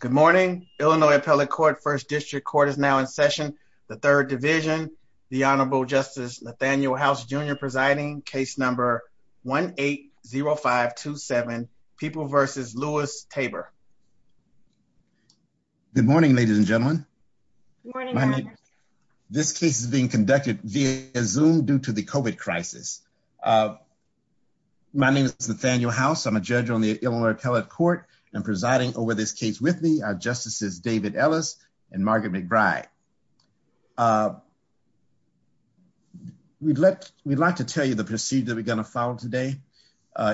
Good morning. Illinois Appellate Court, First District Court is now in session. The Third Division, the Honorable Justice Nathaniel House Jr. presiding, case number 1-8-0527, People v. Lewis-Tabor. Good morning, ladies and gentlemen. Good morning. This case is being conducted via Zoom due to the COVID crisis. My name is Nathaniel House. I'm a judge on the Illinois Appellate Court. I'm presiding over this case with me are Justices David Ellis and Margaret McBride. We'd like to tell you the procedure we're going to follow today.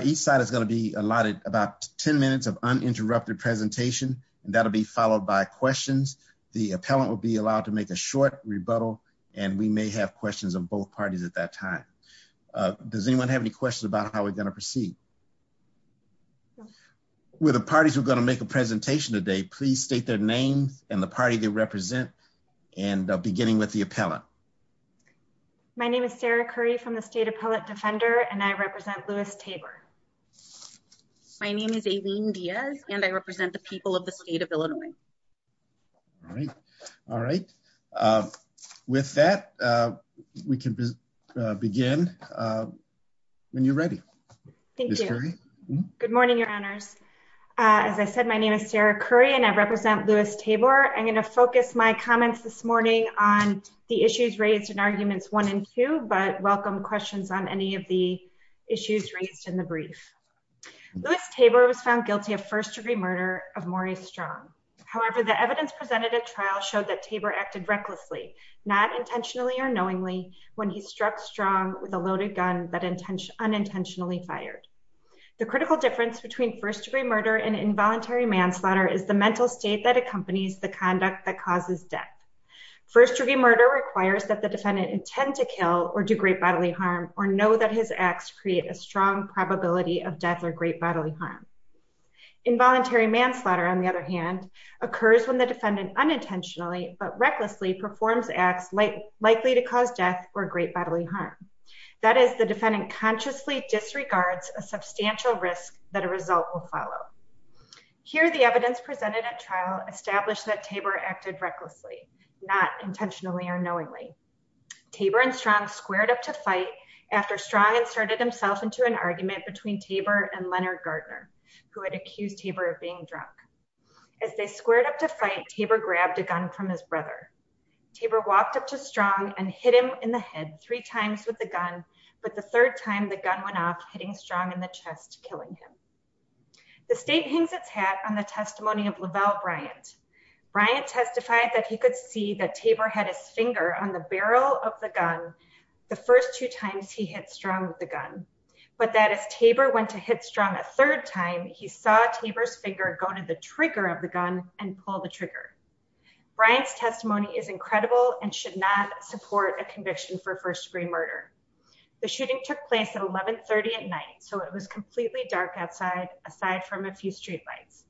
Each side is going to be allotted about 10 minutes of uninterrupted presentation. That'll be followed by questions. The appellant will be allowed to make a short rebuttal, and we may have questions of both parties at that time. Does anyone have any questions about how we're going to proceed? With the parties who are going to make a presentation today, please state their names and the party they represent, beginning with the appellant. My name is Sarah Curry from the State Appellate Defender, and I represent Lewis-Tabor. My name is Aileen Diaz, and I represent the people of the state of Illinois. All right. With that, we can begin when you're ready. Thank you. Good morning, Your Honors. As I said, my name is Sarah Curry, and I represent Lewis-Tabor. I'm going to focus my comments this morning on the issues raised in Arguments 1 and 2, but welcome questions on any of the issues raised in the brief. Lewis-Tabor was found guilty of first-degree murder of Maury Strong. The critical difference between first-degree murder and involuntary manslaughter is the mental state that accompanies the conduct that causes death. First-degree murder requires that the defendant intend to kill or do great bodily harm or know that his acts create a strong probability of death or great bodily harm. Involuntary manslaughter, on the other hand, occurs when the defendant unintentionally but recklessly performs acts likely to cause death or great bodily harm. That is, the defendant consciously disregards a substantial risk that a result will follow. Here, the evidence presented at trial established that Tabor acted recklessly, not intentionally or knowingly. Tabor and Strong squared up to fight after Strong inserted himself into an argument between Tabor and Leonard Gardner, who had accused Tabor of being drunk. As they squared up to fight, Tabor grabbed a gun from his brother. Tabor walked up to Strong and hit him in the head three times with the gun, but the third time the gun went off, hitting Strong in the chest, killing him. The state hangs its hat on the testimony of Lavelle Bryant. Bryant testified that he could see that Tabor had his finger on the barrel of the gun the first two times he hit Strong with the gun, but that as Tabor went to hit Strong a third time, he saw Tabor's finger go to the trigger of the gun and pull the trigger. Bryant's testimony is incredible and should not support a conviction for first-degree murder. The shooting took place at 1130 at night, so it was completely dark outside, aside from a few streetlights.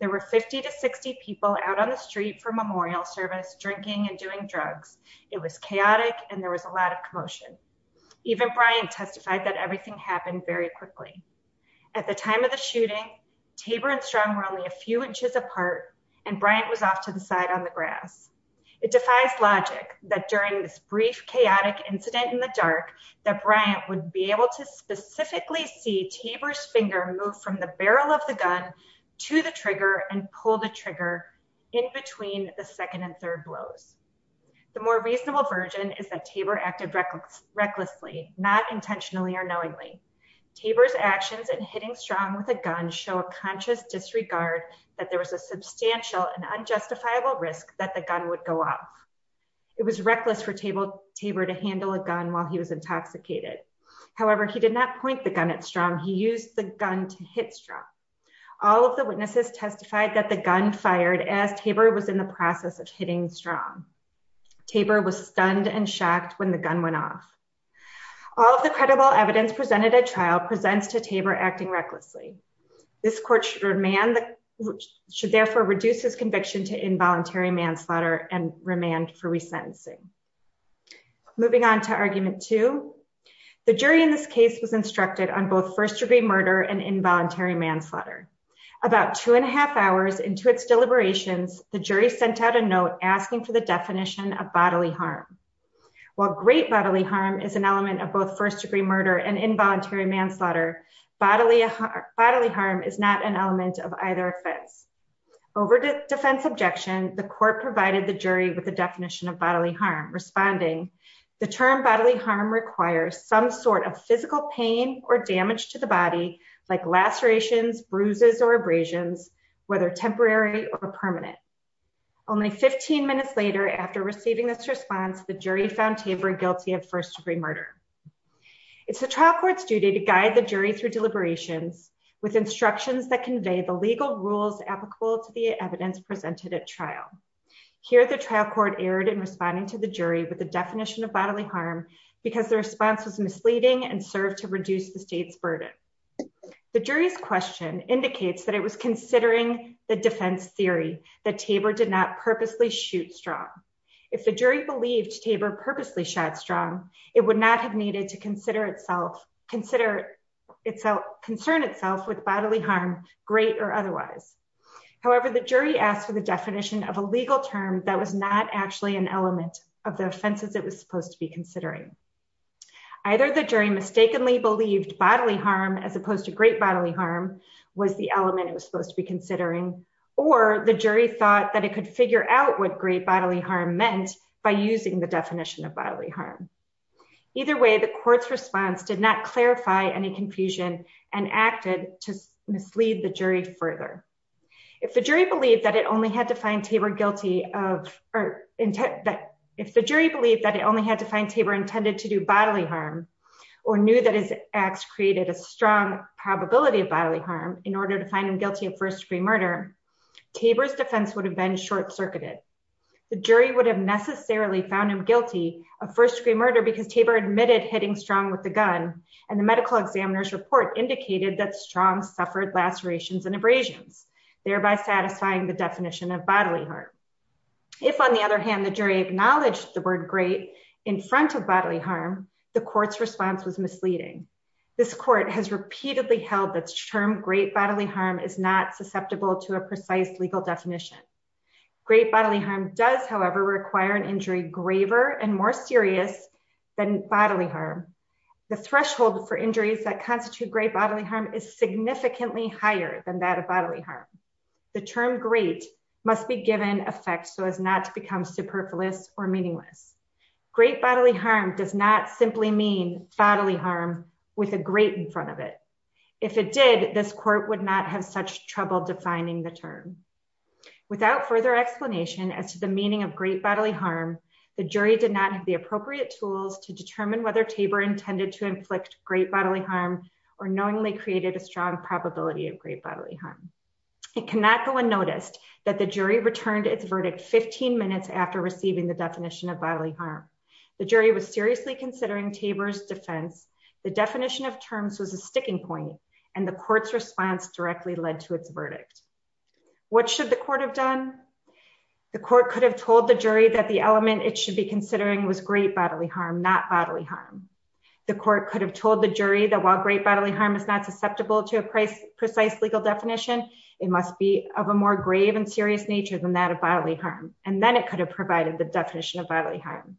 There were 50 to 60 people out on the street for memorial service, drinking and doing drugs. It was chaotic, and there was a lot of commotion. Even Bryant testified that everything happened very quickly. At the time of the shooting, Tabor and Strong were only a few inches apart, and Bryant was off to the side on the grass. It defies logic that during this brief chaotic incident in the dark that Bryant would be able to specifically see Tabor's finger move from the barrel of the gun to the trigger and pull the trigger in between the second and third blows. The more reasonable version is that Tabor acted recklessly, not intentionally or knowingly. Tabor's actions in hitting Strong with a gun show a conscious disregard that there was a substantial and unjustifiable risk that the gun would go off. It was reckless for Tabor to handle a gun while he was intoxicated. However, he did not point the gun at Strong. He used the gun to hit Strong. All of the witnesses testified that the gun fired as Tabor was in the process of hitting Strong. Tabor was stunned and shocked when the gun went off. All of the credible evidence presented at trial presents to Tabor acting recklessly. This court should therefore reduce his conviction to involuntary manslaughter and remand for resentencing. Moving on to argument two, the jury in this case was instructed on both first-degree murder and involuntary manslaughter. About two and a half hours into its deliberations, the jury sent out a note asking for the definition of bodily harm. While great bodily harm is an element of both first-degree murder and involuntary manslaughter, bodily harm is not an element of either offense. Over defense objection, the court provided the jury with the definition of bodily harm, responding, the term bodily harm requires some sort of physical pain or damage to the body, like lacerations, bruises, or abrasions, whether temporary or permanent. Only 15 minutes later, after receiving this response, the jury found Tabor guilty of first-degree murder. It's the trial court's duty to guide the jury through deliberations with instructions that convey the legal rules applicable to the evidence presented at trial. Here, the trial court erred in responding to the jury with the definition of bodily harm because the response was misleading and served to reduce the state's burden. The jury's question indicates that it was considering the defense theory that Tabor did not purposely shoot strong. If the jury believed Tabor purposely shot strong, it would not have needed to consider itself, concern itself with bodily harm, great or otherwise. However, the jury asked for the definition of a legal term that was not actually an element of the offenses it was supposed to be considering. Either the jury mistakenly believed bodily harm as opposed to great bodily harm was the element it was supposed to be considering, or the jury thought that it could figure out what great bodily harm meant by using the definition of bodily harm. Either way, the court's response did not clarify any confusion and acted to mislead the jury further. If the jury believed that it only had to find Tabor intended to do bodily harm, or knew that his acts created a strong probability of bodily harm in order to find him guilty of first-degree murder, Tabor's defense would have been short-circuited. The jury would have necessarily found him guilty of first-degree murder because Tabor admitted hitting strong with the gun, and the medical examiner's report indicated that strong suffered lacerations and abrasions, thereby satisfying the definition of bodily harm. If, on the other hand, the jury acknowledged the word great in front of bodily harm, the court's response was misleading. This court has repeatedly held that the term great bodily harm is not susceptible to a precise legal definition. Great bodily harm does, however, require an injury graver and more serious than bodily harm. The threshold for injuries that constitute great bodily harm is significantly higher than that of bodily harm. The term great must be given effect so as not to become superfluous or meaningless. Great bodily harm does not simply mean bodily harm with a great in front of it. If it did, this court would not have such trouble defining the term. Without further explanation as to the meaning of great bodily harm, the jury did not have the appropriate tools to determine whether Tabor intended to inflict great bodily harm or knowingly created a strong probability of great bodily harm. It cannot go unnoticed that the jury returned its verdict 15 minutes after receiving the definition of bodily harm. The jury was seriously considering Tabor's defense. The definition of terms was a sticking point, and the court's response directly led to its verdict. What should the court have done? The court could have told the jury that the element it should be considering was great bodily harm, not bodily harm. The court could have told the jury that while great bodily harm is not susceptible to a precise legal definition, it must be of a more grave and serious nature than that of bodily harm. And then it could have provided the definition of bodily harm.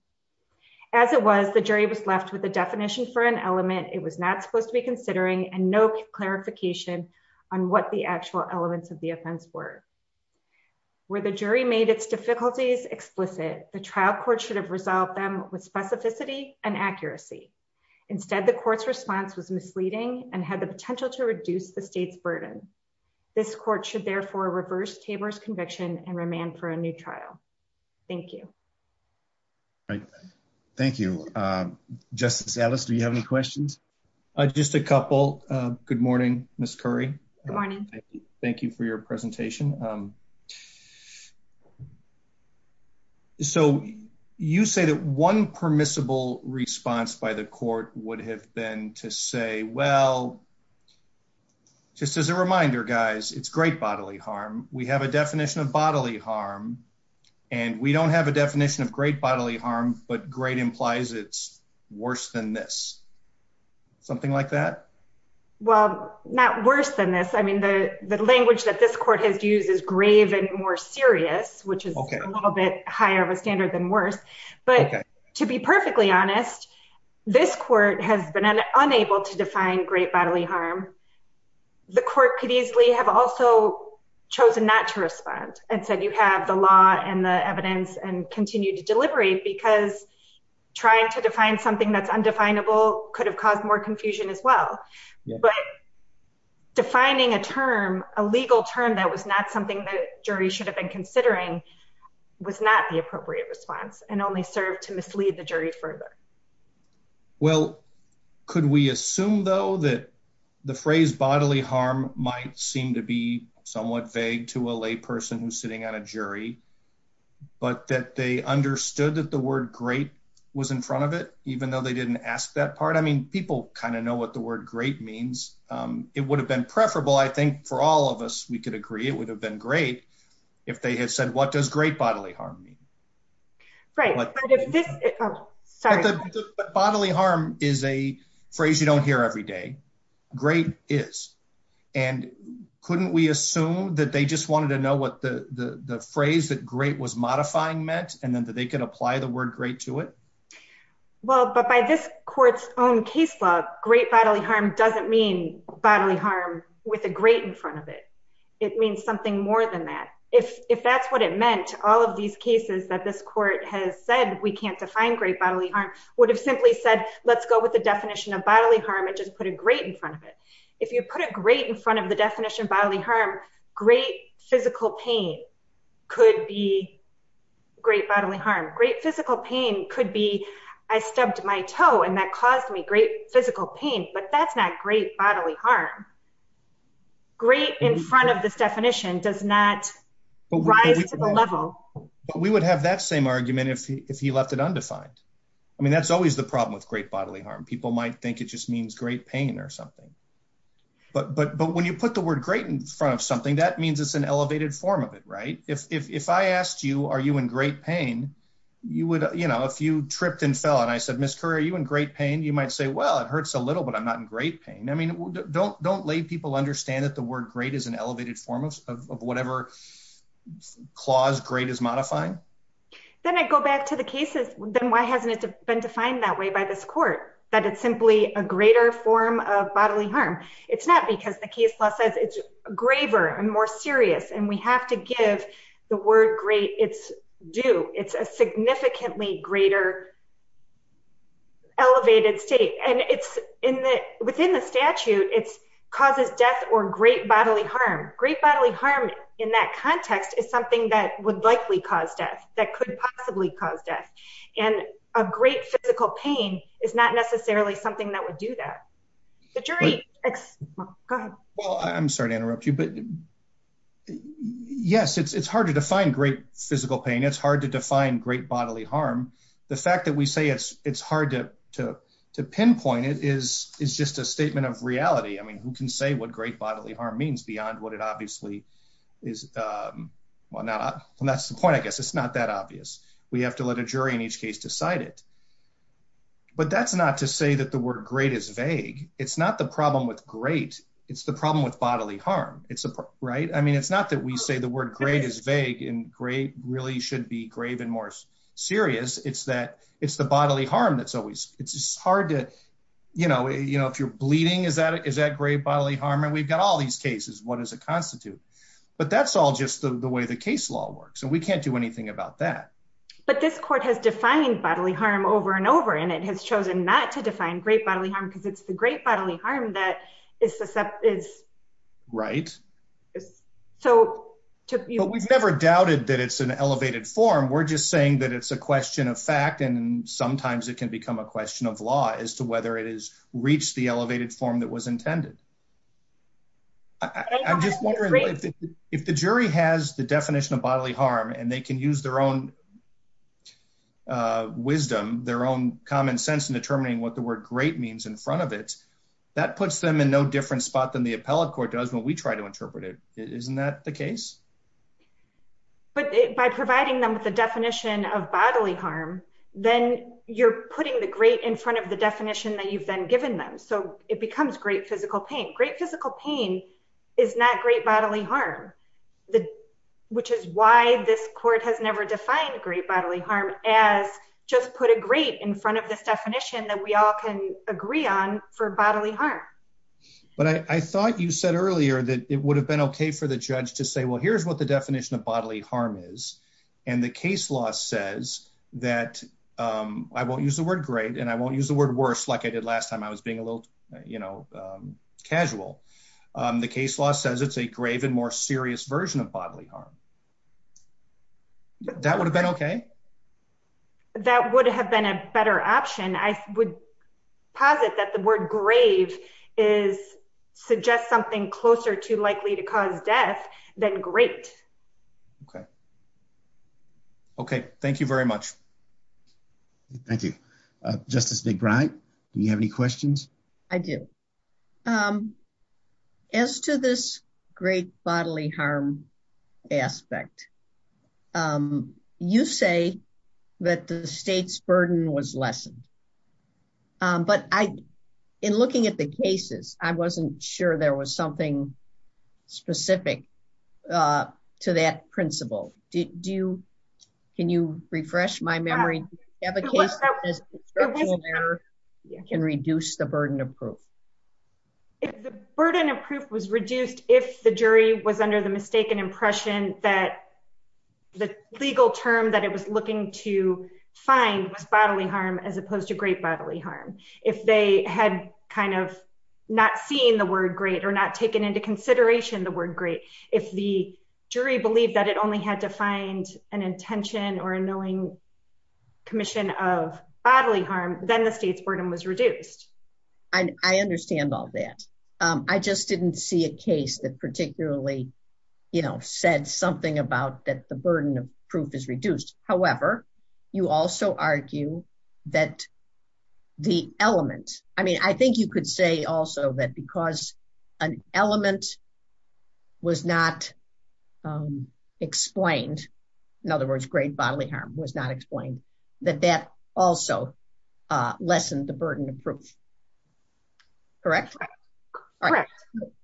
As it was, the jury was left with a definition for an element it was not supposed to be considering and no clarification on what the actual elements of the offense were. Where the jury made its difficulties explicit, the trial court should have resolved them with specificity and accuracy. Instead, the court's response was misleading and had the potential to reduce the state's burden. This court should therefore reverse Tabor's conviction and remand for a new trial. Thank you. Thank you. Justice Ellis, do you have any questions? Just a couple. Good morning, Ms. Curry. Good morning. Thank you for your presentation. So, you say that one permissible response by the court would have been to say, well, just as a reminder, guys, it's great bodily harm. We have a definition of bodily harm, and we don't have a definition of great bodily harm, but great implies it's worse than this. Something like that? Well, not worse than this. I mean, the language that this court has used is grave and more serious, which is a little bit higher of a standard than worse. But to be perfectly honest, this court has been unable to define great bodily harm. The court could easily have also chosen not to respond and said you have the law and the evidence and continue to deliberate because trying to define something that's undefinable could have caused more confusion as well. But defining a term, a legal term that was not something that jury should have been considering was not the appropriate response and only served to mislead the jury further. Well, could we assume, though, that the phrase bodily harm might seem to be somewhat vague to a lay person who's sitting on a jury, but that they understood that the word great was in front of it, even though they didn't ask that part? I mean, people kind of know what the word great means. It would have been preferable, I think, for all of us, we could agree it would have been great if they had said what does great bodily harm mean? Right. Bodily harm is a phrase you don't hear every day. Great is. And couldn't we assume that they just wanted to know what the phrase that great was modifying meant and then that they could apply the word great to it? Well, but by this court's own case law, great bodily harm doesn't mean bodily harm with a great in front of it. It means something more than that. If if that's what it meant, all of these cases that this court has said we can't define great bodily harm would have simply said, let's go with the definition of bodily harm and just put a great in front of it. If you put a great in front of the definition bodily harm, great physical pain could be great bodily harm. Great physical pain could be I stubbed my toe and that caused me great physical pain. But that's not great bodily harm. Great in front of this definition does not rise to the level. But we would have that same argument if he left it undefined. I mean, that's always the problem with great bodily harm. People might think it just means great pain or something. But but but when you put the word great in front of something, that means it's an elevated form of it. Right. If if I asked you, are you in great pain? You would you know, if you tripped and fell and I said, Mr. Are you in great pain? You might say, well, it hurts a little, but I'm not in great pain. I mean, don't don't lay people understand that the word great is an elevated form of whatever clause great is modifying. Then I go back to the cases. Then why hasn't it been defined that way by this court, that it's simply a greater form of bodily harm? It's not because the case law says it's graver and more serious and we have to give the word great. It's do it's a significantly greater. Elevated state, and it's in the within the statute, it's causes death or great bodily harm. Great bodily harm in that context is something that would likely cause death that could possibly cause death. And a great physical pain is not necessarily something that would do that. The jury. Well, I'm sorry to interrupt you, but yes, it's hard to define great physical pain. It's hard to define great bodily harm. The fact that we say it's it's hard to to to pinpoint it is is just a statement of reality. I mean, who can say what great bodily harm means beyond what it obviously is? Well, not that's the point, I guess. It's not that obvious. We have to let a jury in each case decided. But that's not to say that the word great is vague. It's not the problem with great. It's the problem with bodily harm. It's right. I mean, it's not that we say the word great is vague and great really should be grave and more serious. It's that it's the bodily harm that's always it's hard to, you know, you know, if you're bleeding, is that is that great bodily harm? And we've got all these cases. What does it constitute? But that's all just the way the case law works. And we can't do anything about that. But this court has defined bodily harm over and over. And it has chosen not to define great bodily harm because it's the great bodily harm that is. Right. So we've never doubted that it's an elevated form. We're just saying that it's a question of fact. And sometimes it can become a question of law as to whether it is reached the elevated form that was intended. I'm just wondering if the jury has the definition of bodily harm and they can use their own wisdom, their own common sense in determining what the word great means in front of it. That puts them in no different spot than the appellate court does what we try to interpret it. Isn't that the case? But by providing them with the definition of bodily harm, then you're putting the great in front of the definition that you've been given them. So it becomes great physical pain. Great physical pain is not great bodily harm. Which is why this court has never defined great bodily harm as just put a great in front of this definition that we all can agree on for bodily harm. But I thought you said earlier that it would have been OK for the judge to say, well, here's what the definition of bodily harm is. And the case law says that I won't use the word great and I won't use the word worse like I did last time. I was being a little, you know, casual. The case law says it's a grave and more serious version of bodily harm. That would have been OK. That would have been a better option. I would posit that the word grave is suggest something closer to likely to cause death than great. OK. OK. Thank you very much. Thank you. Justice McBride, do you have any questions? I do. As to this great bodily harm aspect, you say that the state's burden was lessened. But I in looking at the cases, I wasn't sure there was something specific to that principle. Do you can you refresh my memory of a case that can reduce the burden of proof? The burden of proof was reduced if the jury was under the mistaken impression that the legal term that it was looking to find was bodily harm as opposed to great bodily harm. If they had kind of not seen the word great or not taken into consideration the word great. If the jury believed that it only had to find an intention or a knowing commission of bodily harm, then the state's burden was reduced. I understand all that. I just didn't see a case that particularly, you know, said something about that. The burden of proof is reduced. However, you also argue that the element I mean, I think you could say also that because an element. Was not explained. In other words, great bodily harm was not explained that that also lessened the burden of proof. Correct.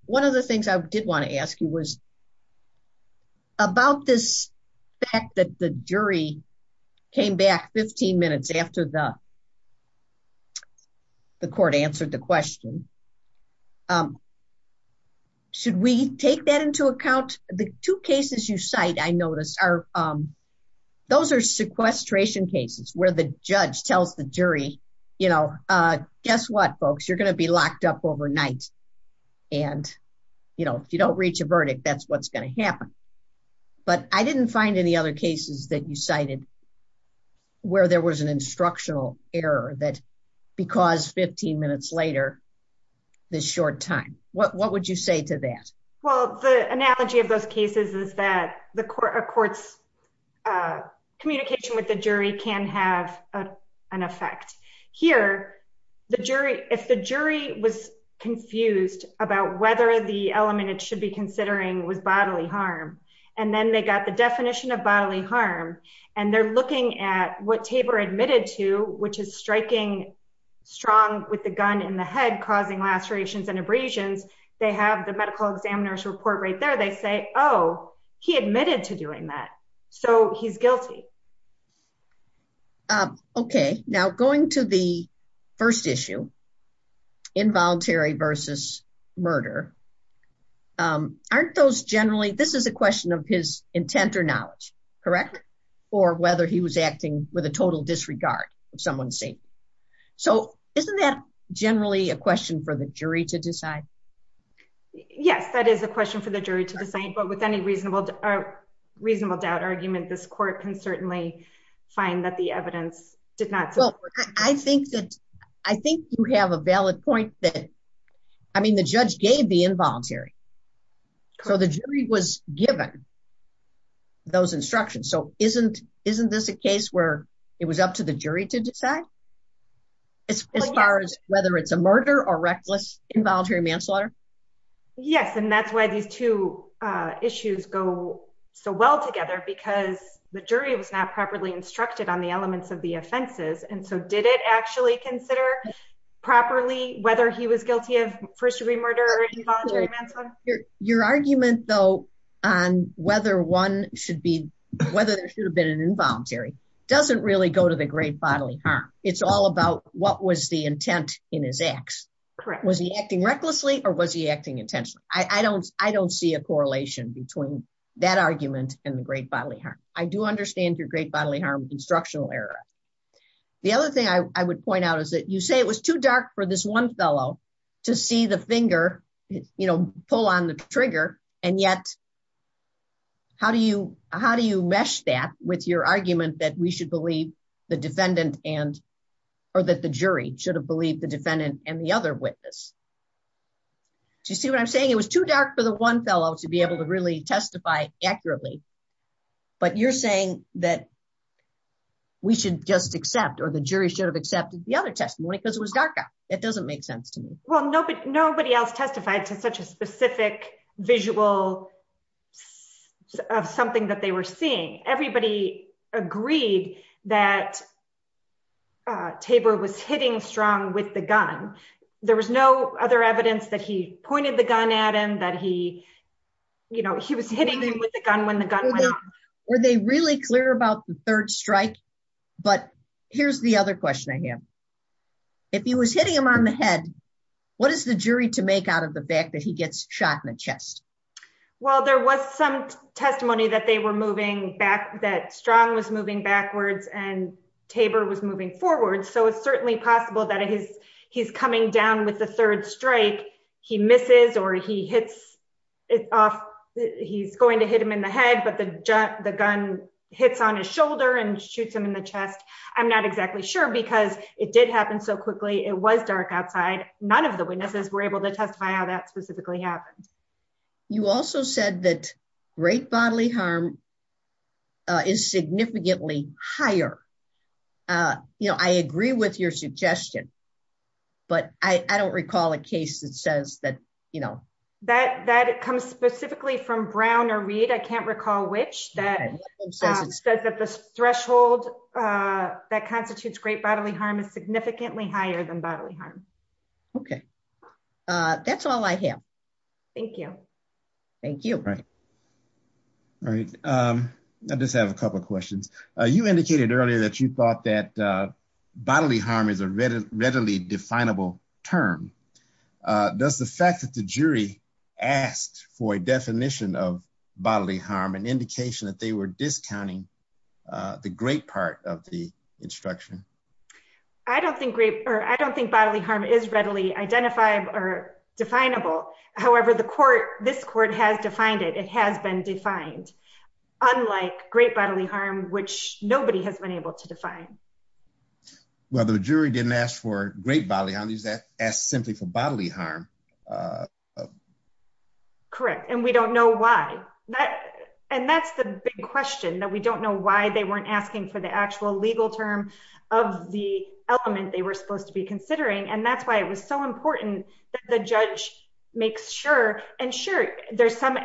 One of the things I did want to ask you was about this fact that the jury came back 15 minutes after the court answered the question. Should we take that into account? The two cases you cite I noticed are those are sequestration cases where the judge tells the jury, you know, guess what, folks, you're going to be locked up overnight. And, you know, if you don't reach a verdict, that's what's going to happen. But I didn't find any other cases that you cited where there was an instructional error that because 15 minutes later, the short time, what would you say to that. Well, the analogy of those cases is that the court courts communication with the jury can have an effect here. The jury, if the jury was confused about whether the element it should be considering was bodily harm, and then they got the definition of bodily harm. And they're looking at what Tabor admitted to, which is striking strong with the gun in the head causing lacerations and abrasions. They have the medical examiner's report right there. They say, oh, he admitted to doing that. So he's guilty. Okay, now going to the first issue involuntary versus murder. Aren't those generally this is a question of his intent or knowledge, correct, or whether he was acting with a total disregard of someone saying. So, isn't that generally a question for the jury to decide. Yes, that is a question for the jury to decide but with any reasonable reasonable doubt argument this court can certainly find that the evidence did not. I think that I think you have a valid point that I mean the judge gave the involuntary. So the jury was given those instructions so isn't, isn't this a case where it was up to the jury to decide. As far as whether it's a murder or reckless involuntary manslaughter. Yes, and that's why these two issues go so well together because the jury was not properly instructed on the elements of the offenses and so did it actually consider properly, whether he was guilty of first degree murder involuntary manslaughter. Your argument though on whether one should be, whether there should have been an involuntary doesn't really go to the great bodily harm, it's all about what was the intent in his acts. Was he acting recklessly or was he acting intentionally I don't, I don't see a correlation between that argument, and the great bodily harm, I do understand your great bodily harm instructional error. The other thing I would point out is that you say it was too dark for this one fellow to see the finger, you know, pull on the trigger. And yet, how do you, how do you mesh that with your argument that we should believe the defendant and, or that the jury should have believed the defendant, and the other witness to see what I'm saying it was too dark for the one fellow to be able to really testify accurately. But you're saying that we should just accept or the jury should have accepted the other testimony because it was darker. It doesn't make sense to me. Well, nobody, nobody else testified to such a specific visual of something that they were seeing everybody agreed that table was hitting strong with the gun. There was no other evidence that he pointed the gun at him that he, you know, he was hitting me with a gun when the gun. Were they really clear about the third strike. But here's the other question I have. If he was hitting him on the head. What is the jury to make out of the fact that he gets shot in the chest. Well, there was some testimony that they were moving back that strong was moving backwards and Tabor was moving forward so it's certainly possible that it is, he's coming down with the third strike, he misses or he hits it off. He's going to hit him in the head but the, the gun hits on his shoulder and shoots him in the chest. I'm not exactly sure because it did happen so quickly it was dark outside, none of the witnesses were able to testify how that specifically happened. You also said that great bodily harm is significantly higher. You know, I agree with your suggestion. But I don't recall a case that says that, you know, that that comes specifically from Brown or read I can't recall which that says that the threshold that constitutes great bodily harm is significantly higher than bodily harm. Okay. That's all I have. Thank you. Thank you. Right. I just have a couple of questions. You indicated earlier that you thought that bodily harm is a really readily definable term. Does the fact that the jury asked for a definition of bodily harm and indication that they were discounting the great part of the instruction. I don't think great, or I don't think bodily harm is readily identified or definable. However, the court, this court has defined it it has been defined. Unlike great bodily harm which nobody has been able to define. Well the jury didn't ask for great value on these that as simply for bodily harm. Correct. And we don't know why that. And that's the big question that we don't know why they weren't asking for the actual legal term of the element they were supposed to be considering and that's why it was so important that the judge makes sure and there's some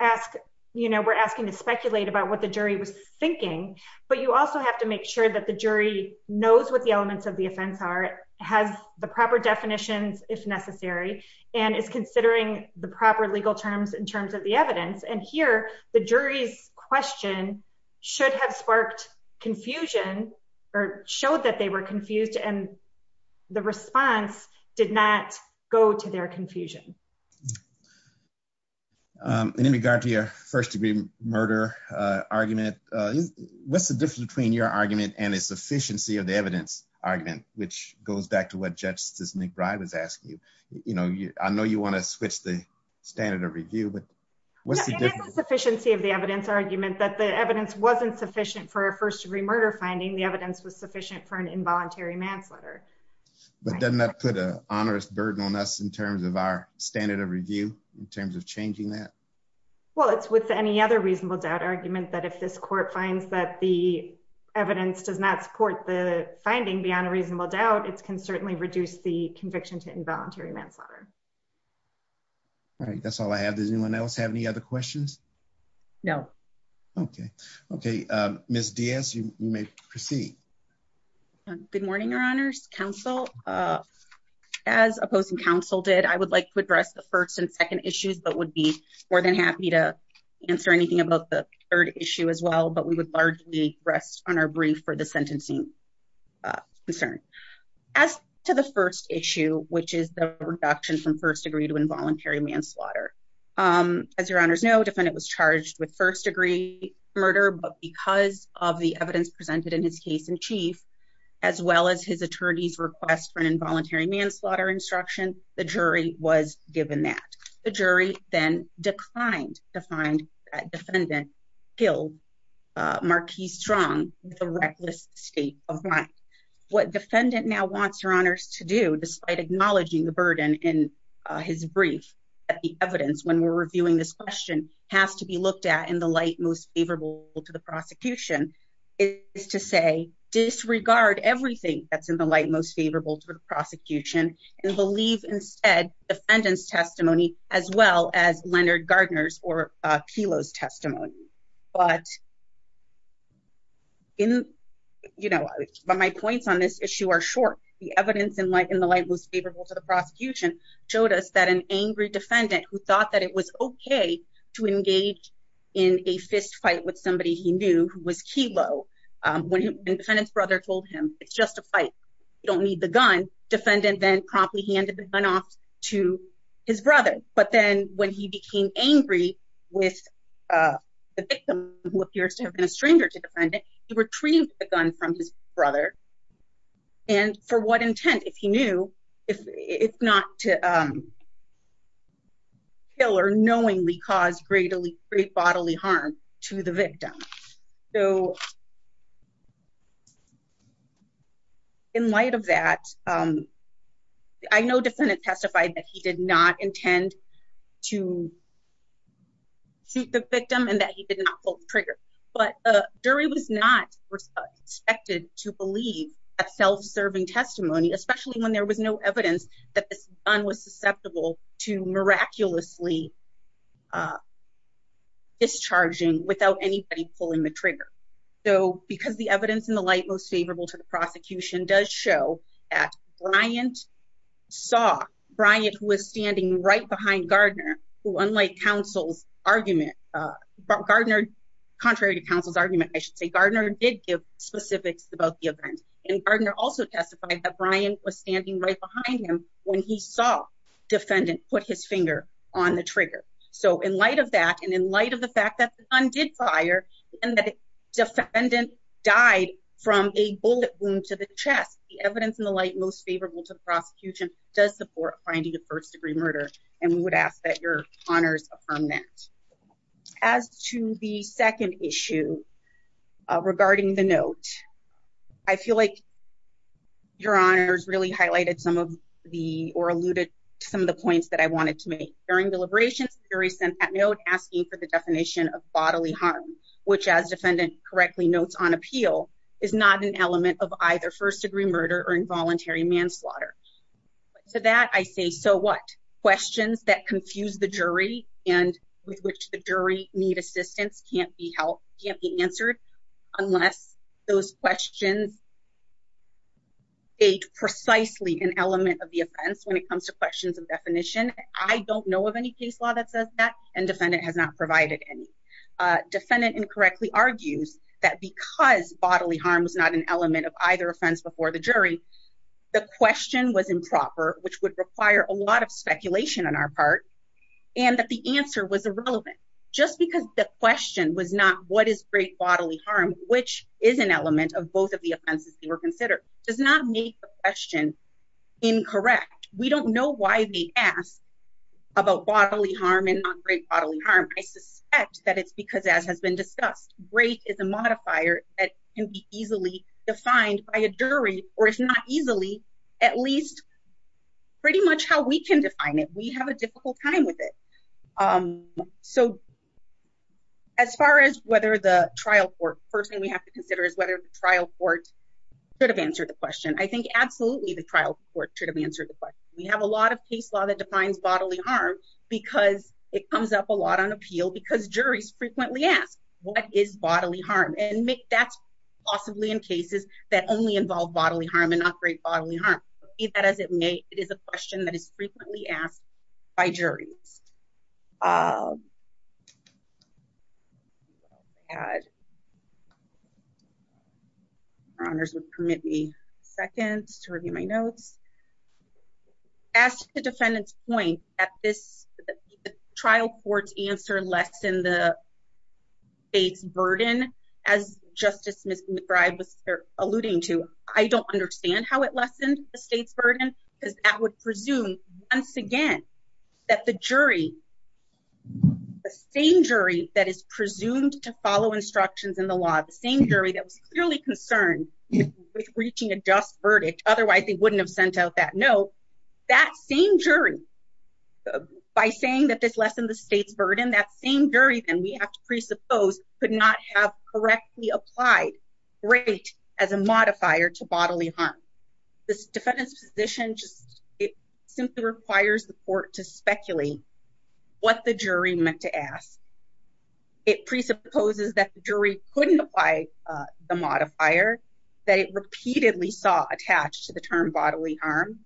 ask, you know, we're asking to speculate about what the jury was thinking, but you also have to make sure that the jury knows what the elements of the offense are has the proper definitions, if necessary, and is considering the proper And in regard to your first degree murder argument. What's the difference between your argument and a sufficiency of the evidence argument, which goes back to what Justice McBride was asking you, you know, I know you want to switch the standard of review but what's the sufficiency of the evidence argument that the evidence wasn't sufficient for a first degree murder finding the evidence was sufficient for an involuntary manslaughter. But then that put a onerous burden on us in terms of our standard of review, in terms of changing that. Well, it's with any other reasonable doubt argument that if this court finds that the evidence does not support the finding beyond a reasonable doubt it's can certainly reduce the conviction to involuntary manslaughter. Right. That's all I have. Does anyone else have any other questions. No. Okay. Okay. Miss DS you may proceed. Good morning, Your Honor's counsel. As opposing counsel did I would like to address the first and second issues but would be more than happy to answer anything about the third issue as well but we would largely rest on our brief for the sentencing concern. As to the first issue, which is the reduction from first degree to involuntary manslaughter. As your honors know defendant was charged with first degree murder but because of the evidence presented in his case in chief, as well as his attorneys request for an involuntary manslaughter instruction, the jury was given that the jury, then declined to find that defendant killed Marquis strong with a reckless state of mind. What defendant now wants your honors to do despite acknowledging the burden in his brief at the evidence when we're reviewing this question has to be looked at in the light most favorable to the prosecution is to say disregard everything that's in the light most favorable to the prosecution and believe instead defendants testimony, as well as Leonard gardeners or kilos testimony, but in, you know, but my points on this issue are short, the evidence in light in the light most favorable to the prosecution showed us that an angry defendant who thought that it was okay to engage in a fistfight with somebody he knew was kilo. When his brother told him, it's just a fight. You don't need the gun defendant then promptly handed the gun off to his brother, but then when he became angry with the victim, who appears to have been a stranger to defend it, he retrieved the gun from his brother. And for what intent if he knew if it's not to kill or knowingly cause greatly great bodily harm to the victim. So, in light of that, I know defendant testified that he did not intend to shoot the victim and that he did not trigger, but Dury was not expected to believe a self serving testimony, especially when there was no evidence that this gun was susceptible to miraculously discharging without anybody pulling the trigger, though, because the evidence in the light most favorable to the prosecution does show at Bryant saw Bryant was standing right behind Gardner who unlike counsel's argument. Gardner, contrary to counsel's argument, I should say Gardner did give specifics about the event and Gardner also testified that Brian was standing right behind him when he saw defendant put his finger on the trigger. So, in light of that, and in light of the fact that the gun did fire and that defendant died from a bullet wound to the chest, the evidence in the light most favorable to the prosecution does support finding a first degree murder, and we would ask that your honors affirm that. As to the second issue regarding the note, I feel like your honors really highlighted some of the or alluded to some of the points that I wanted to make. During deliberations, Dury sent that note asking for the definition of bodily harm, which as defendant correctly notes on appeal, is not an element of either first degree murder or involuntary manslaughter. To that, I say, so what? Questions that confuse the jury and with which the jury need assistance can't be helped, can't be answered unless those questions aid precisely an element of the offense when it comes to questions of definition. I don't know of any case law that says that, and defendant has not provided any. Defendant incorrectly argues that because bodily harm was not an element of either offense before the jury, the question was improper, which would require a lot of speculation on our part, and that the answer was irrelevant. Just because the question was not what is great bodily harm, which is an element of both of the offenses that were considered, does not make the question incorrect. In fact, we don't know why they asked about bodily harm and not great bodily harm. I suspect that it's because as has been discussed, great is a modifier that can be easily defined by a jury, or if not easily, at least pretty much how we can define it. We have a difficult time with it. So as far as whether the trial court, first thing we have to consider is whether the trial court should have answered the question. I think absolutely the trial court should have answered the question. We have a lot of case law that defines bodily harm because it comes up a lot on appeal because juries frequently ask what is bodily harm, and that's possibly in cases that only involve bodily harm and not great bodily harm. As it may, it is a question that is frequently asked by juries. Honors would permit me seconds to review my notes. As the defendant's point at this trial court's answer lessen the state's burden, as Justice McBride was alluding to, I don't understand how it lessened the state's burden because that would presume once again that the jury, the same jury that is presumed to follow instructions in the law, the same jury that was clearly concerned with reaching a just verdict, otherwise they wouldn't have sent out that note, that same jury, by saying that this lessened the state's burden, that same jury then we have to presuppose could not have correctly applied great as a modifier to bodily harm. This defendant's position just simply requires the court to speculate what the jury meant to ask. It presupposes that the jury couldn't apply the modifier that it repeatedly saw attached to the term bodily harm.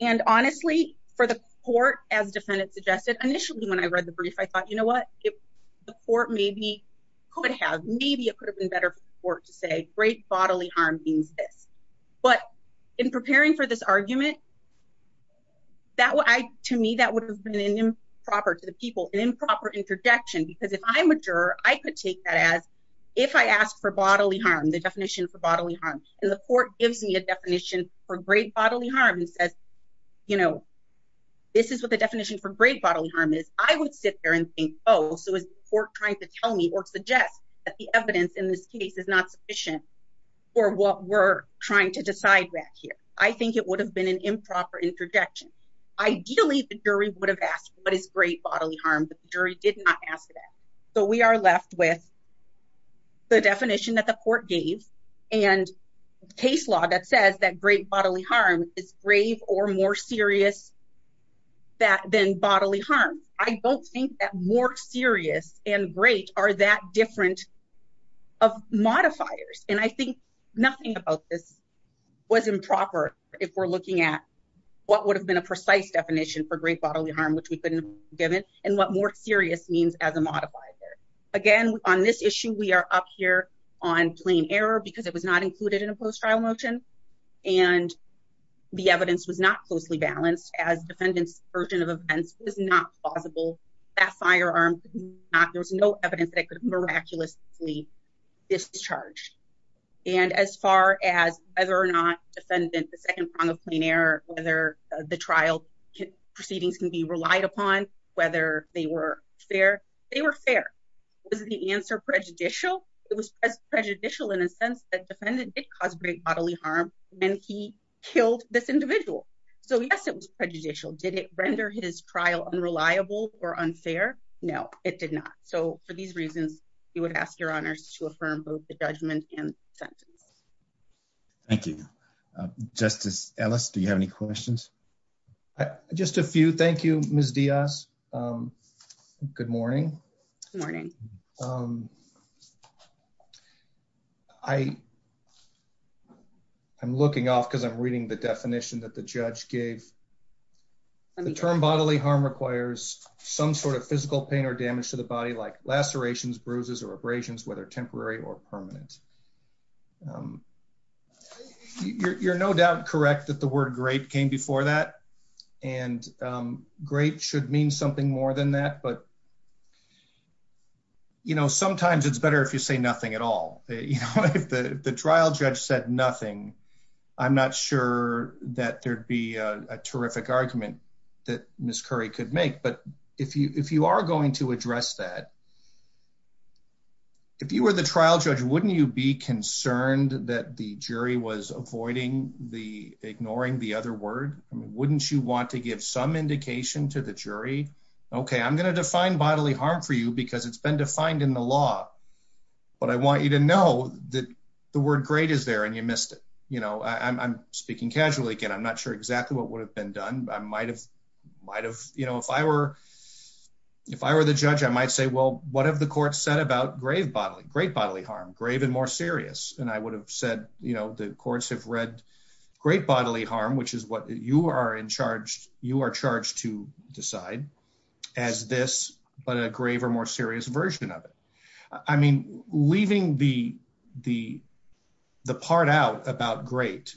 And honestly, for the court, as the defendant suggested, initially when I read the brief, I thought, you know what, the court maybe could have, maybe it could have been better for the court to say great bodily harm means this. But in preparing for this argument, to me that would have been improper to the people, an improper interjection, because if I'm a juror, I could take that as, if I ask for bodily harm, the definition for bodily harm, and the court gives me a definition for great bodily harm and says, you know, this is what the definition for great bodily harm is, I would sit there and think, oh, so is the court trying to tell me or suggest that the evidence in this case is not sufficient for what we're trying to do. I think it would have been an improper interjection. Ideally, the jury would have asked what is great bodily harm, but the jury did not ask that. So we are left with the definition that the court gave and case law that says that great bodily harm is grave or more serious than bodily harm. I don't think that more serious and great are that different of modifiers. And I think nothing about this was improper, if we're looking at what would have been a precise definition for great bodily harm, which we couldn't have given, and what more serious means as a modifier. Again, on this issue, we are up here on plain error, because it was not included in a post-trial motion. And the evidence was not closely balanced as defendant's version of events was not plausible. That firearm, there was no evidence that it could have miraculously discharged. And as far as whether or not defendant, the second prong of plain error, whether the trial proceedings can be relied upon, whether they were fair, they were fair. Was the answer prejudicial? It was prejudicial in a sense that defendant did cause great bodily harm, and he killed this individual. So yes, it was prejudicial. Did it render his trial unreliable or unfair? No, it did not. So for these reasons, you would ask your honors to affirm both the judgment and sentence. Thank you. Justice Ellis, do you have any questions? Just a few. Thank you, Ms. Diaz. Good morning. Good morning. I'm looking off because I'm reading the definition that the judge gave. The term bodily harm requires some sort of physical pain or damage to the body like lacerations, bruises or abrasions, whether temporary or permanent. You're no doubt correct that the word great came before that. And great should mean something more than that. But, you know, sometimes it's better if you say nothing at all. The trial judge said nothing. I'm not sure that there'd be a terrific argument that Ms. Curry could make. But if you if you are going to address that. If you were the trial judge, wouldn't you be concerned that the jury was avoiding the ignoring the other word? Wouldn't you want to give some indication to the jury? Okay, I'm going to define bodily harm for you because it's been defined in the law. But I want you to know that the word great is there and you missed it. You know, I'm speaking casually again. I'm not sure exactly what would have been done. I might have might have, you know, if I were if I were the judge, I might say, well, what have the court said about grave bodily great bodily harm grave and more serious. And I would have said, you know, the courts have read great bodily harm, which is what you are in charge, you are charged to decide as this, but a grave or more serious version of it. I mean, leaving the, the, the part out about great.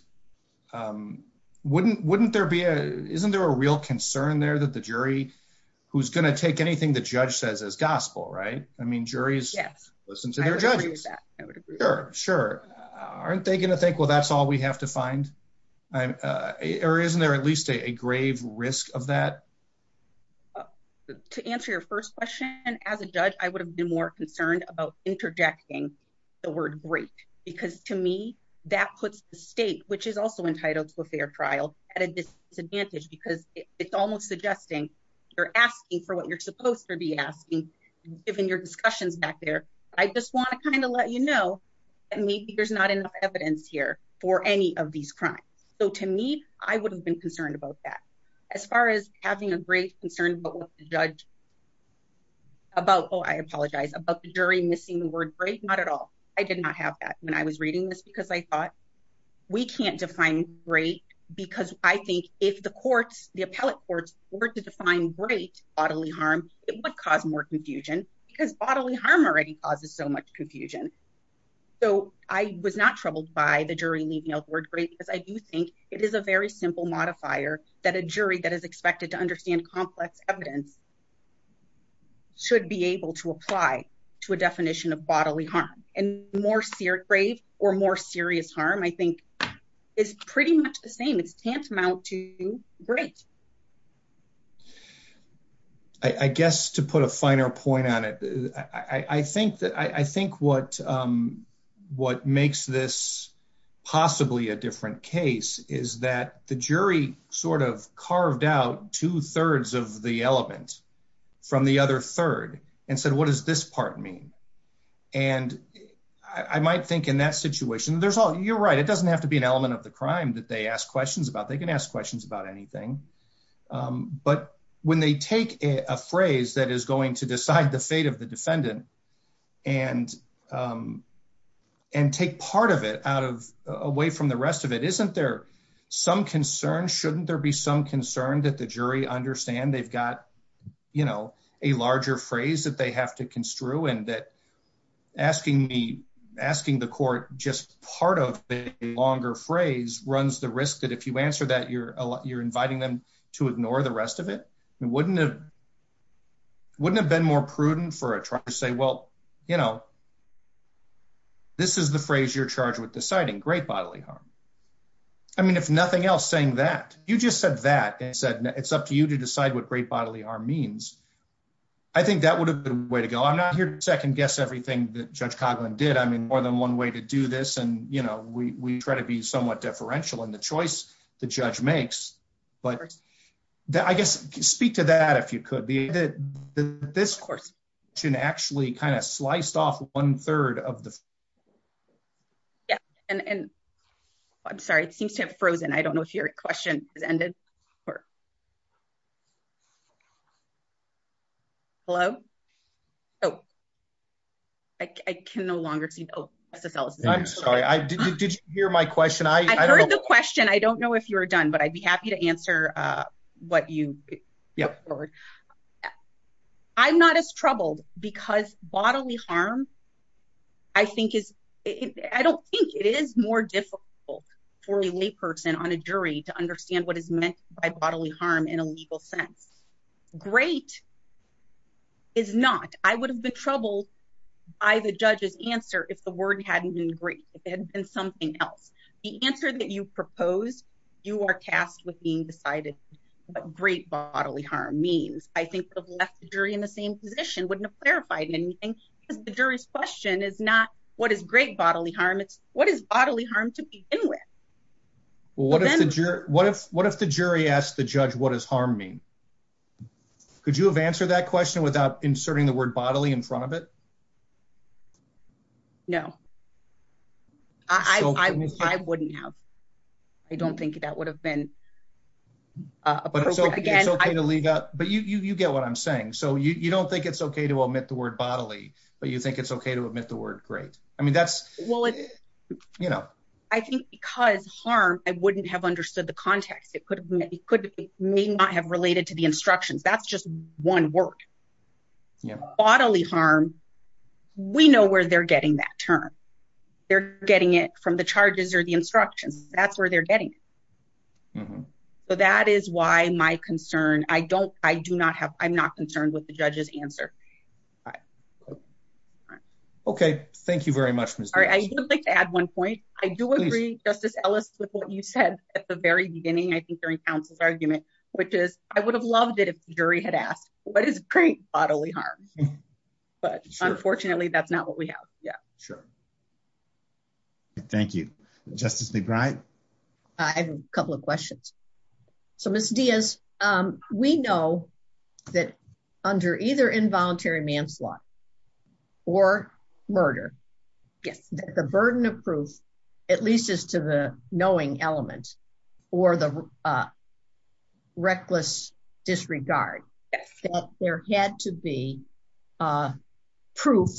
Wouldn't wouldn't there be a isn't there a real concern there that the jury, who's going to take anything the judge says as gospel right i mean juries. Yes, listen to their judges. Sure, sure. Aren't they going to think well that's all we have to find. Or isn't there at least a grave risk of that. To answer your first question, as a judge, I would have been more concerned about interjecting the word great, because to me, that puts the state which is also entitled to a fair trial at a disadvantage because it's almost suggesting you're asking for what you're supposed to be asking, given your discussions back there. I just want to kind of let you know that maybe there's not enough evidence here for any of these crimes. So to me, I would have been concerned about that. As far as having a great concern but judge about oh I apologize about the jury missing the word great not at all. I did not have that when I was reading this because I thought we can't define great, because I think if the courts, the appellate courts were to define great bodily harm, it would cause more confusion, because bodily harm already causes so much confusion. So, I was not troubled by the jury leaving out the word great because I do think it is a very simple modifier that a jury that is expected to understand complex evidence should be able to apply to a definition of bodily harm and more serious grave or more serious harm I think is pretty much the same it's tantamount to great. I guess to put a finer point on it. I think that I think what, what makes this possibly a different case is that the jury sort of carved out two thirds of the element from the other third and said what does this part mean. And I might think in that situation there's all you're right it doesn't have to be an element of the crime that they ask questions about they can ask questions about anything. But when they take a phrase that is going to decide the fate of the defendant, and, and take part of it out of away from the rest of it isn't there some concern shouldn't there be some concern that the jury understand they've got, you know, a larger phrase that they have to construe and that asking me, asking the court, just part of the longer phrase runs the risk that if you answer that you're, you're inviting them to ignore the rest of it wouldn't have wouldn't have been more prudent for a truck to say well, you know, this is the phrase you're charged with deciding great bodily harm. I mean if nothing else saying that you just said that it said it's up to you to decide what great bodily harm means. I think that would have been way to go I'm not here to second guess everything that Judge Coughlin did I mean more than one way to do this and you know we try to be somewhat differential and the choice. The judge makes, but I guess, speak to that if you could be that this course should actually kind of sliced off one third of the. Yeah, and I'm sorry it seems to have frozen I don't know if your question is ended or. Hello. Oh, I can no longer see. I'm sorry I did you hear my question I heard the question I don't know if you're done but I'd be happy to answer what you. Yeah. I'm not as troubled, because bodily harm. I think is, I don't think it is more difficult for a layperson on a jury to understand what is meant by bodily harm in a legal sense. Great is not, I would have been troubled by the judges answer if the word hadn't been great, it had been something else. The answer that you propose, you are tasked with being decided. But great bodily harm means, I think, during the same position wouldn't have verified anything is the jury's question is not what is great bodily harm it's what is bodily harm to begin with. What if, what if the jury asked the judge what is harming. Could you have answered that question without inserting the word bodily in front of it. No, I wouldn't have. I don't think that would have been. But it's okay to leave up, but you get what I'm saying so you don't think it's okay to omit the word bodily, but you think it's okay to omit the word great. I mean that's what you know, I think, because harm, I wouldn't have understood the context it could be could be may not have related to the instructions that's just one word bodily harm. We know where they're getting that term. They're getting it from the charges or the instructions, that's where they're getting. So that is why my concern, I don't, I do not have, I'm not concerned with the judges answer. Okay, thank you very much. I would like to add one point, I do agree, Justice Ellis with what you said at the very beginning I think during Council's argument, which is, I would have loved it if jury had asked what is great bodily harm. But unfortunately that's not what we have. Yeah, sure. Thank you, Justice McBride. I have a couple of questions. So Miss Diaz. We know that under either involuntary manslaughter or murder. Yes, the burden of proof, at least as to the knowing element, or the reckless disregard. There had to be proof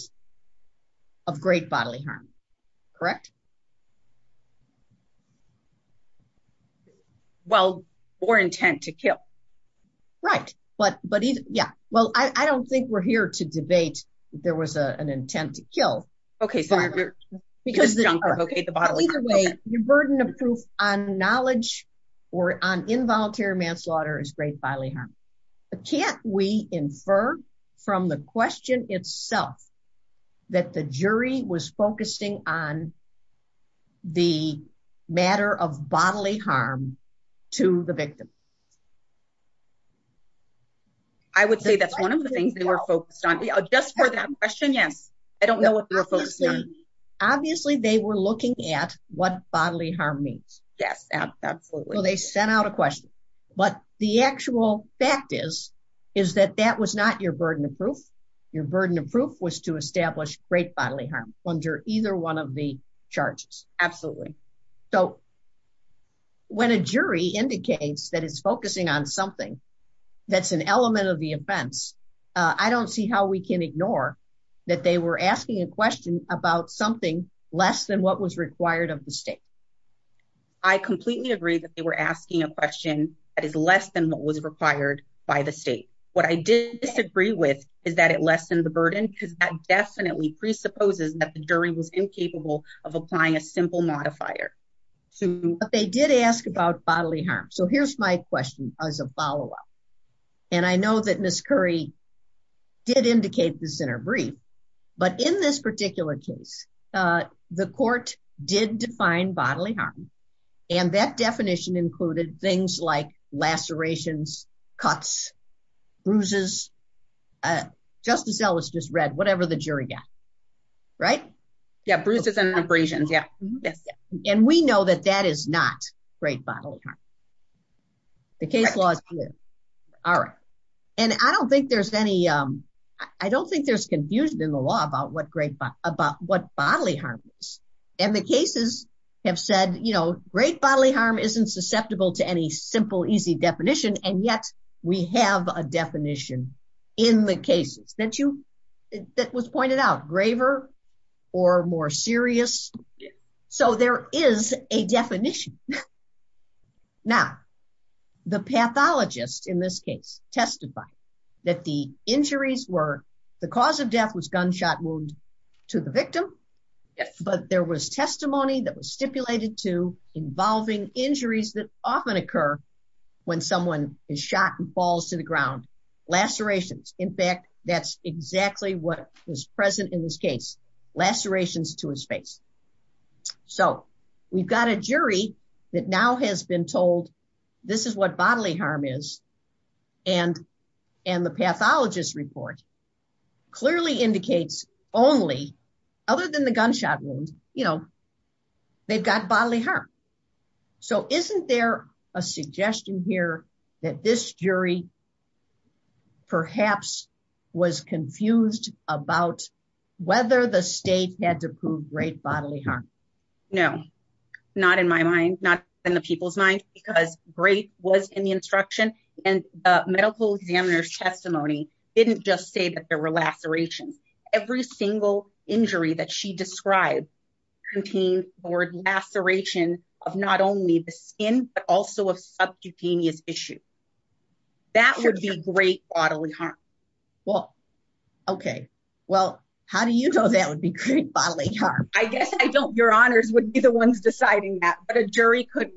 of great bodily harm. Correct. Well, or intent to kill. Right. But, but yeah, well I don't think we're here to debate. There was an intent to kill. Okay, because the bodily burden of proof on knowledge or on involuntary manslaughter is great bodily harm. Can we infer from the question itself that the jury was focusing on the matter of bodily harm to the victim. I would say that's one of the things that we're focused on. Just for that question. Yes. I don't know what we're focusing on. Obviously they were looking at what bodily harm means. Yes, absolutely. They sent out a question. But the actual fact is, is that that was not your burden of proof. Your burden of proof was to establish great bodily harm under either one of the charges. Absolutely. So, when a jury indicates that it's focusing on something that's an element of the offense. I don't see how we can ignore that they were asking a question about something less than what was required of the state. I completely agree that they were asking a question that is less than what was required by the state. What I disagree with is that it lessened the burden because that definitely presupposes that the jury was incapable of applying a simple modifier. But they did ask about bodily harm. So here's my question as a follow up. And I know that Miss Curry did indicate this in her brief. But in this particular case, the court did define bodily harm. And that definition included things like lacerations, cuts, bruises. Justice Ellis just read whatever the jury got. Right. Yeah, bruises and abrasions. Yeah, yes. And we know that that is not great bodily harm. The case laws. All right. And I don't think there's any. I don't think there's confusion in the law about what great about what bodily harm is. And the cases have said, you know, great bodily harm isn't susceptible to any simple easy definition and yet we have a definition in the cases that you that was pointed out graver or more serious. So there is a definition. Now, the pathologist in this case, testify that the injuries were the cause of death was gunshot wound to the victim. But there was testimony that was stipulated to involving injuries that often occur when someone is shot and falls to the ground lacerations. In fact, that's exactly what was present in this case, lacerations to his face. So, we've got a jury that now has been told. This is what bodily harm is. And, and the pathologist report clearly indicates only other than the gunshot wound, you know, they've got bodily harm. So, isn't there a suggestion here that this jury, perhaps, was confused about whether the state had to prove great bodily harm. No, not in my mind, not in the people's mind, because great was in the instruction and medical examiner's testimony, didn't just say that there were lacerations, every single injury that she described contain or laceration of not only the skin, but also of subcutaneous issue. That would be great bodily harm. Well, okay. Well, how do you know that would be great bodily harm. I guess I don't your honors would be the ones deciding that but a jury could.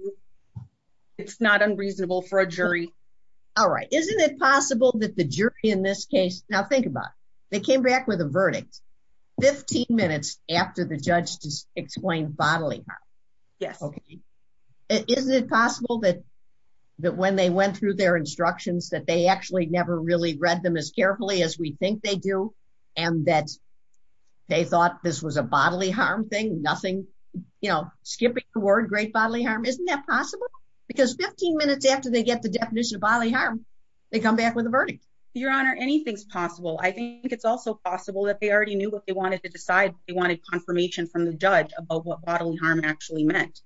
It's not unreasonable for a jury. All right, isn't it possible that the jury in this case, now think about, they came back with a verdict. 15 minutes after the judge just explained bodily. Yes. Okay. Is it possible that that when they went through their instructions that they actually never really read them as carefully as we think they do, and that they thought this was a bodily harm thing nothing, you know, skipping the word great bodily harm isn't that possible, because 15 minutes after they get the definition of bodily harm. They come back with a verdict, Your Honor anything's possible I think it's also possible that they already knew what they wanted to decide, they wanted confirmation from the judge about what bodily harm actually meant.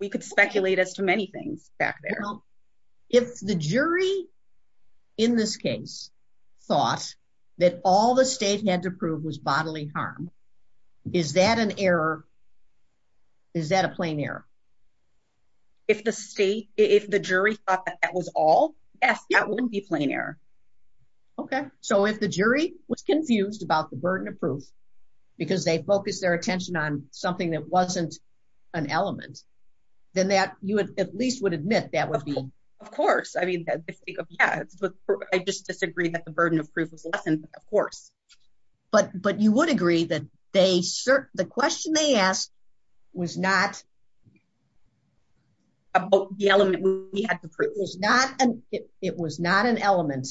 We could speculate as to many things back there. Well, if the jury. In this case, thought that all the state had to prove was bodily harm. Is that an error. Is that a plain error. If the state, if the jury thought that was all. Yes, that wouldn't be plain error. Okay, so if the jury was confused about the burden of proof, because they focus their attention on something that wasn't an element, then that you would at least would admit that would be, of course, I mean, I just disagree that the burden of proof of course, but but you would agree that they serve the question they asked was not about the element we had to prove is not an, it was not an element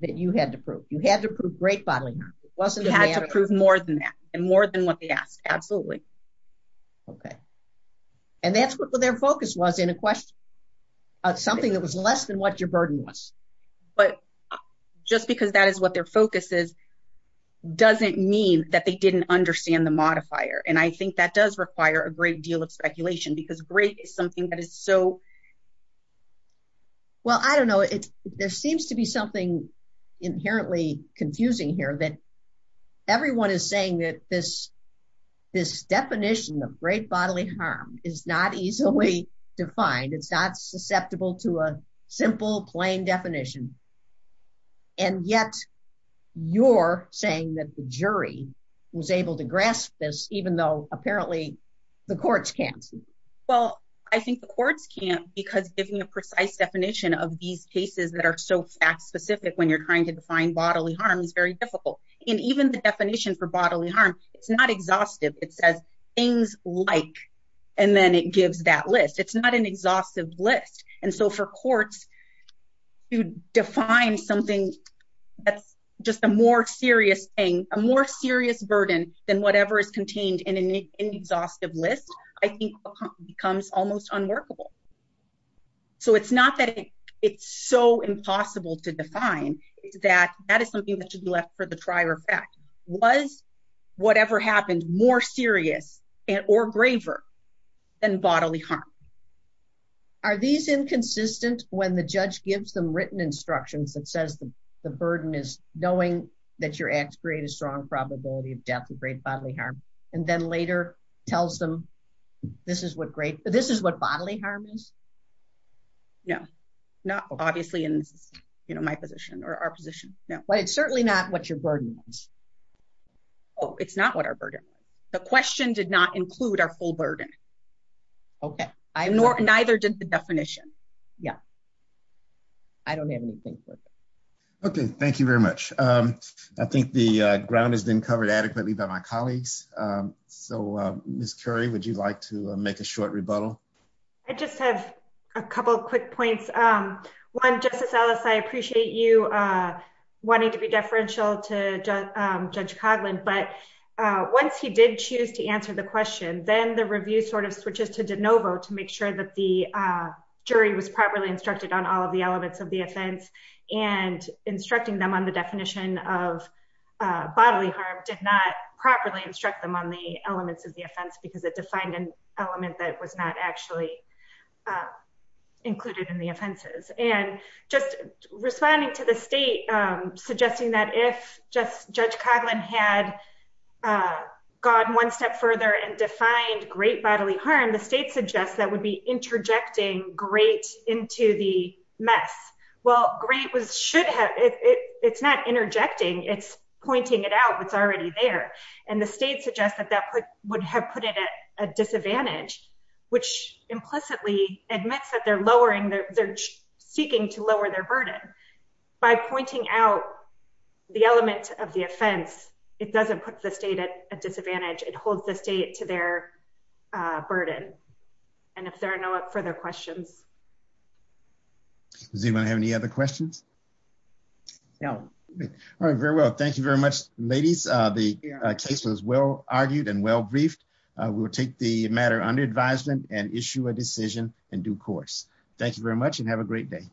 that you had to prove you had to prove great bodily wasn't had to prove more than that, and more than what they asked. Absolutely. Okay. And that's what their focus was in a question of something that was less than what your burden was. But just because that is what their focus is doesn't mean that they didn't understand the modifier and I think that does require a great deal of speculation because great is something that is so. Well, I don't know if there seems to be something inherently confusing here that everyone is saying that this, this definition of great bodily harm is not easily defined it's not susceptible to a simple plain definition. And yet, you're saying that the jury was able to grasp this, even though apparently the courts can't. Well, I think the courts can't because giving a precise definition of these cases that are so fact specific when you're trying to define bodily harm is very difficult, and even the definition for bodily harm. It's not exhaustive it says things like, and then it gives that list it's not an exhaustive list. And so for courts to define something that's just a more serious thing, a more serious burden than whatever is contained in an exhaustive list, I think, becomes almost unworkable. So it's not that it's so impossible to define that that is something that should be left for the trier effect was whatever happened more serious and or graver than bodily harm. Are these inconsistent, when the judge gives them written instructions that says the burden is knowing that your acts create a strong probability of death and great bodily harm, and then later tells them. This is what great, this is what bodily harm is. No, no, obviously in my position or our position. No, but it's certainly not what your burden. Oh, it's not what our burden. The question did not include our full burden. Okay, I nor neither did the definition. Yeah. I don't have anything. Okay, thank you very much. I think the ground has been covered adequately by my colleagues. So, Miss Curry, would you like to make a short rebuttal. I just have a couple quick points. One, Justice Ellis, I appreciate you wanting to be deferential to Judge Coughlin but once he did choose to answer the question, then the review sort of switches to de novo to make sure that the jury was properly instructed on all of the elements of the offense and instructing them on the definition of bodily harm did not properly instruct them on the elements of the offense because it defined an element that was not actually included in the offenses and just responding to the state, suggesting that if just Judge Coughlin had gone one step further and defined great bodily harm the state suggests that would be interjecting great into the mess. Well, great was should have it, it's not interjecting it's pointing it out it's already there. And the state suggests that that would have put it at a disadvantage, which implicitly admits that they're lowering their, they're seeking to lower their burden by pointing out the element of the offense. It doesn't put the state at a disadvantage it holds the state to their burden. And if there are no further questions. Does anyone have any other questions. Now, very well. Thank you very much, ladies. The case was well argued and well briefed, we will take the matter under advisement and issue a decision in due course. Thank you very much and have a great day.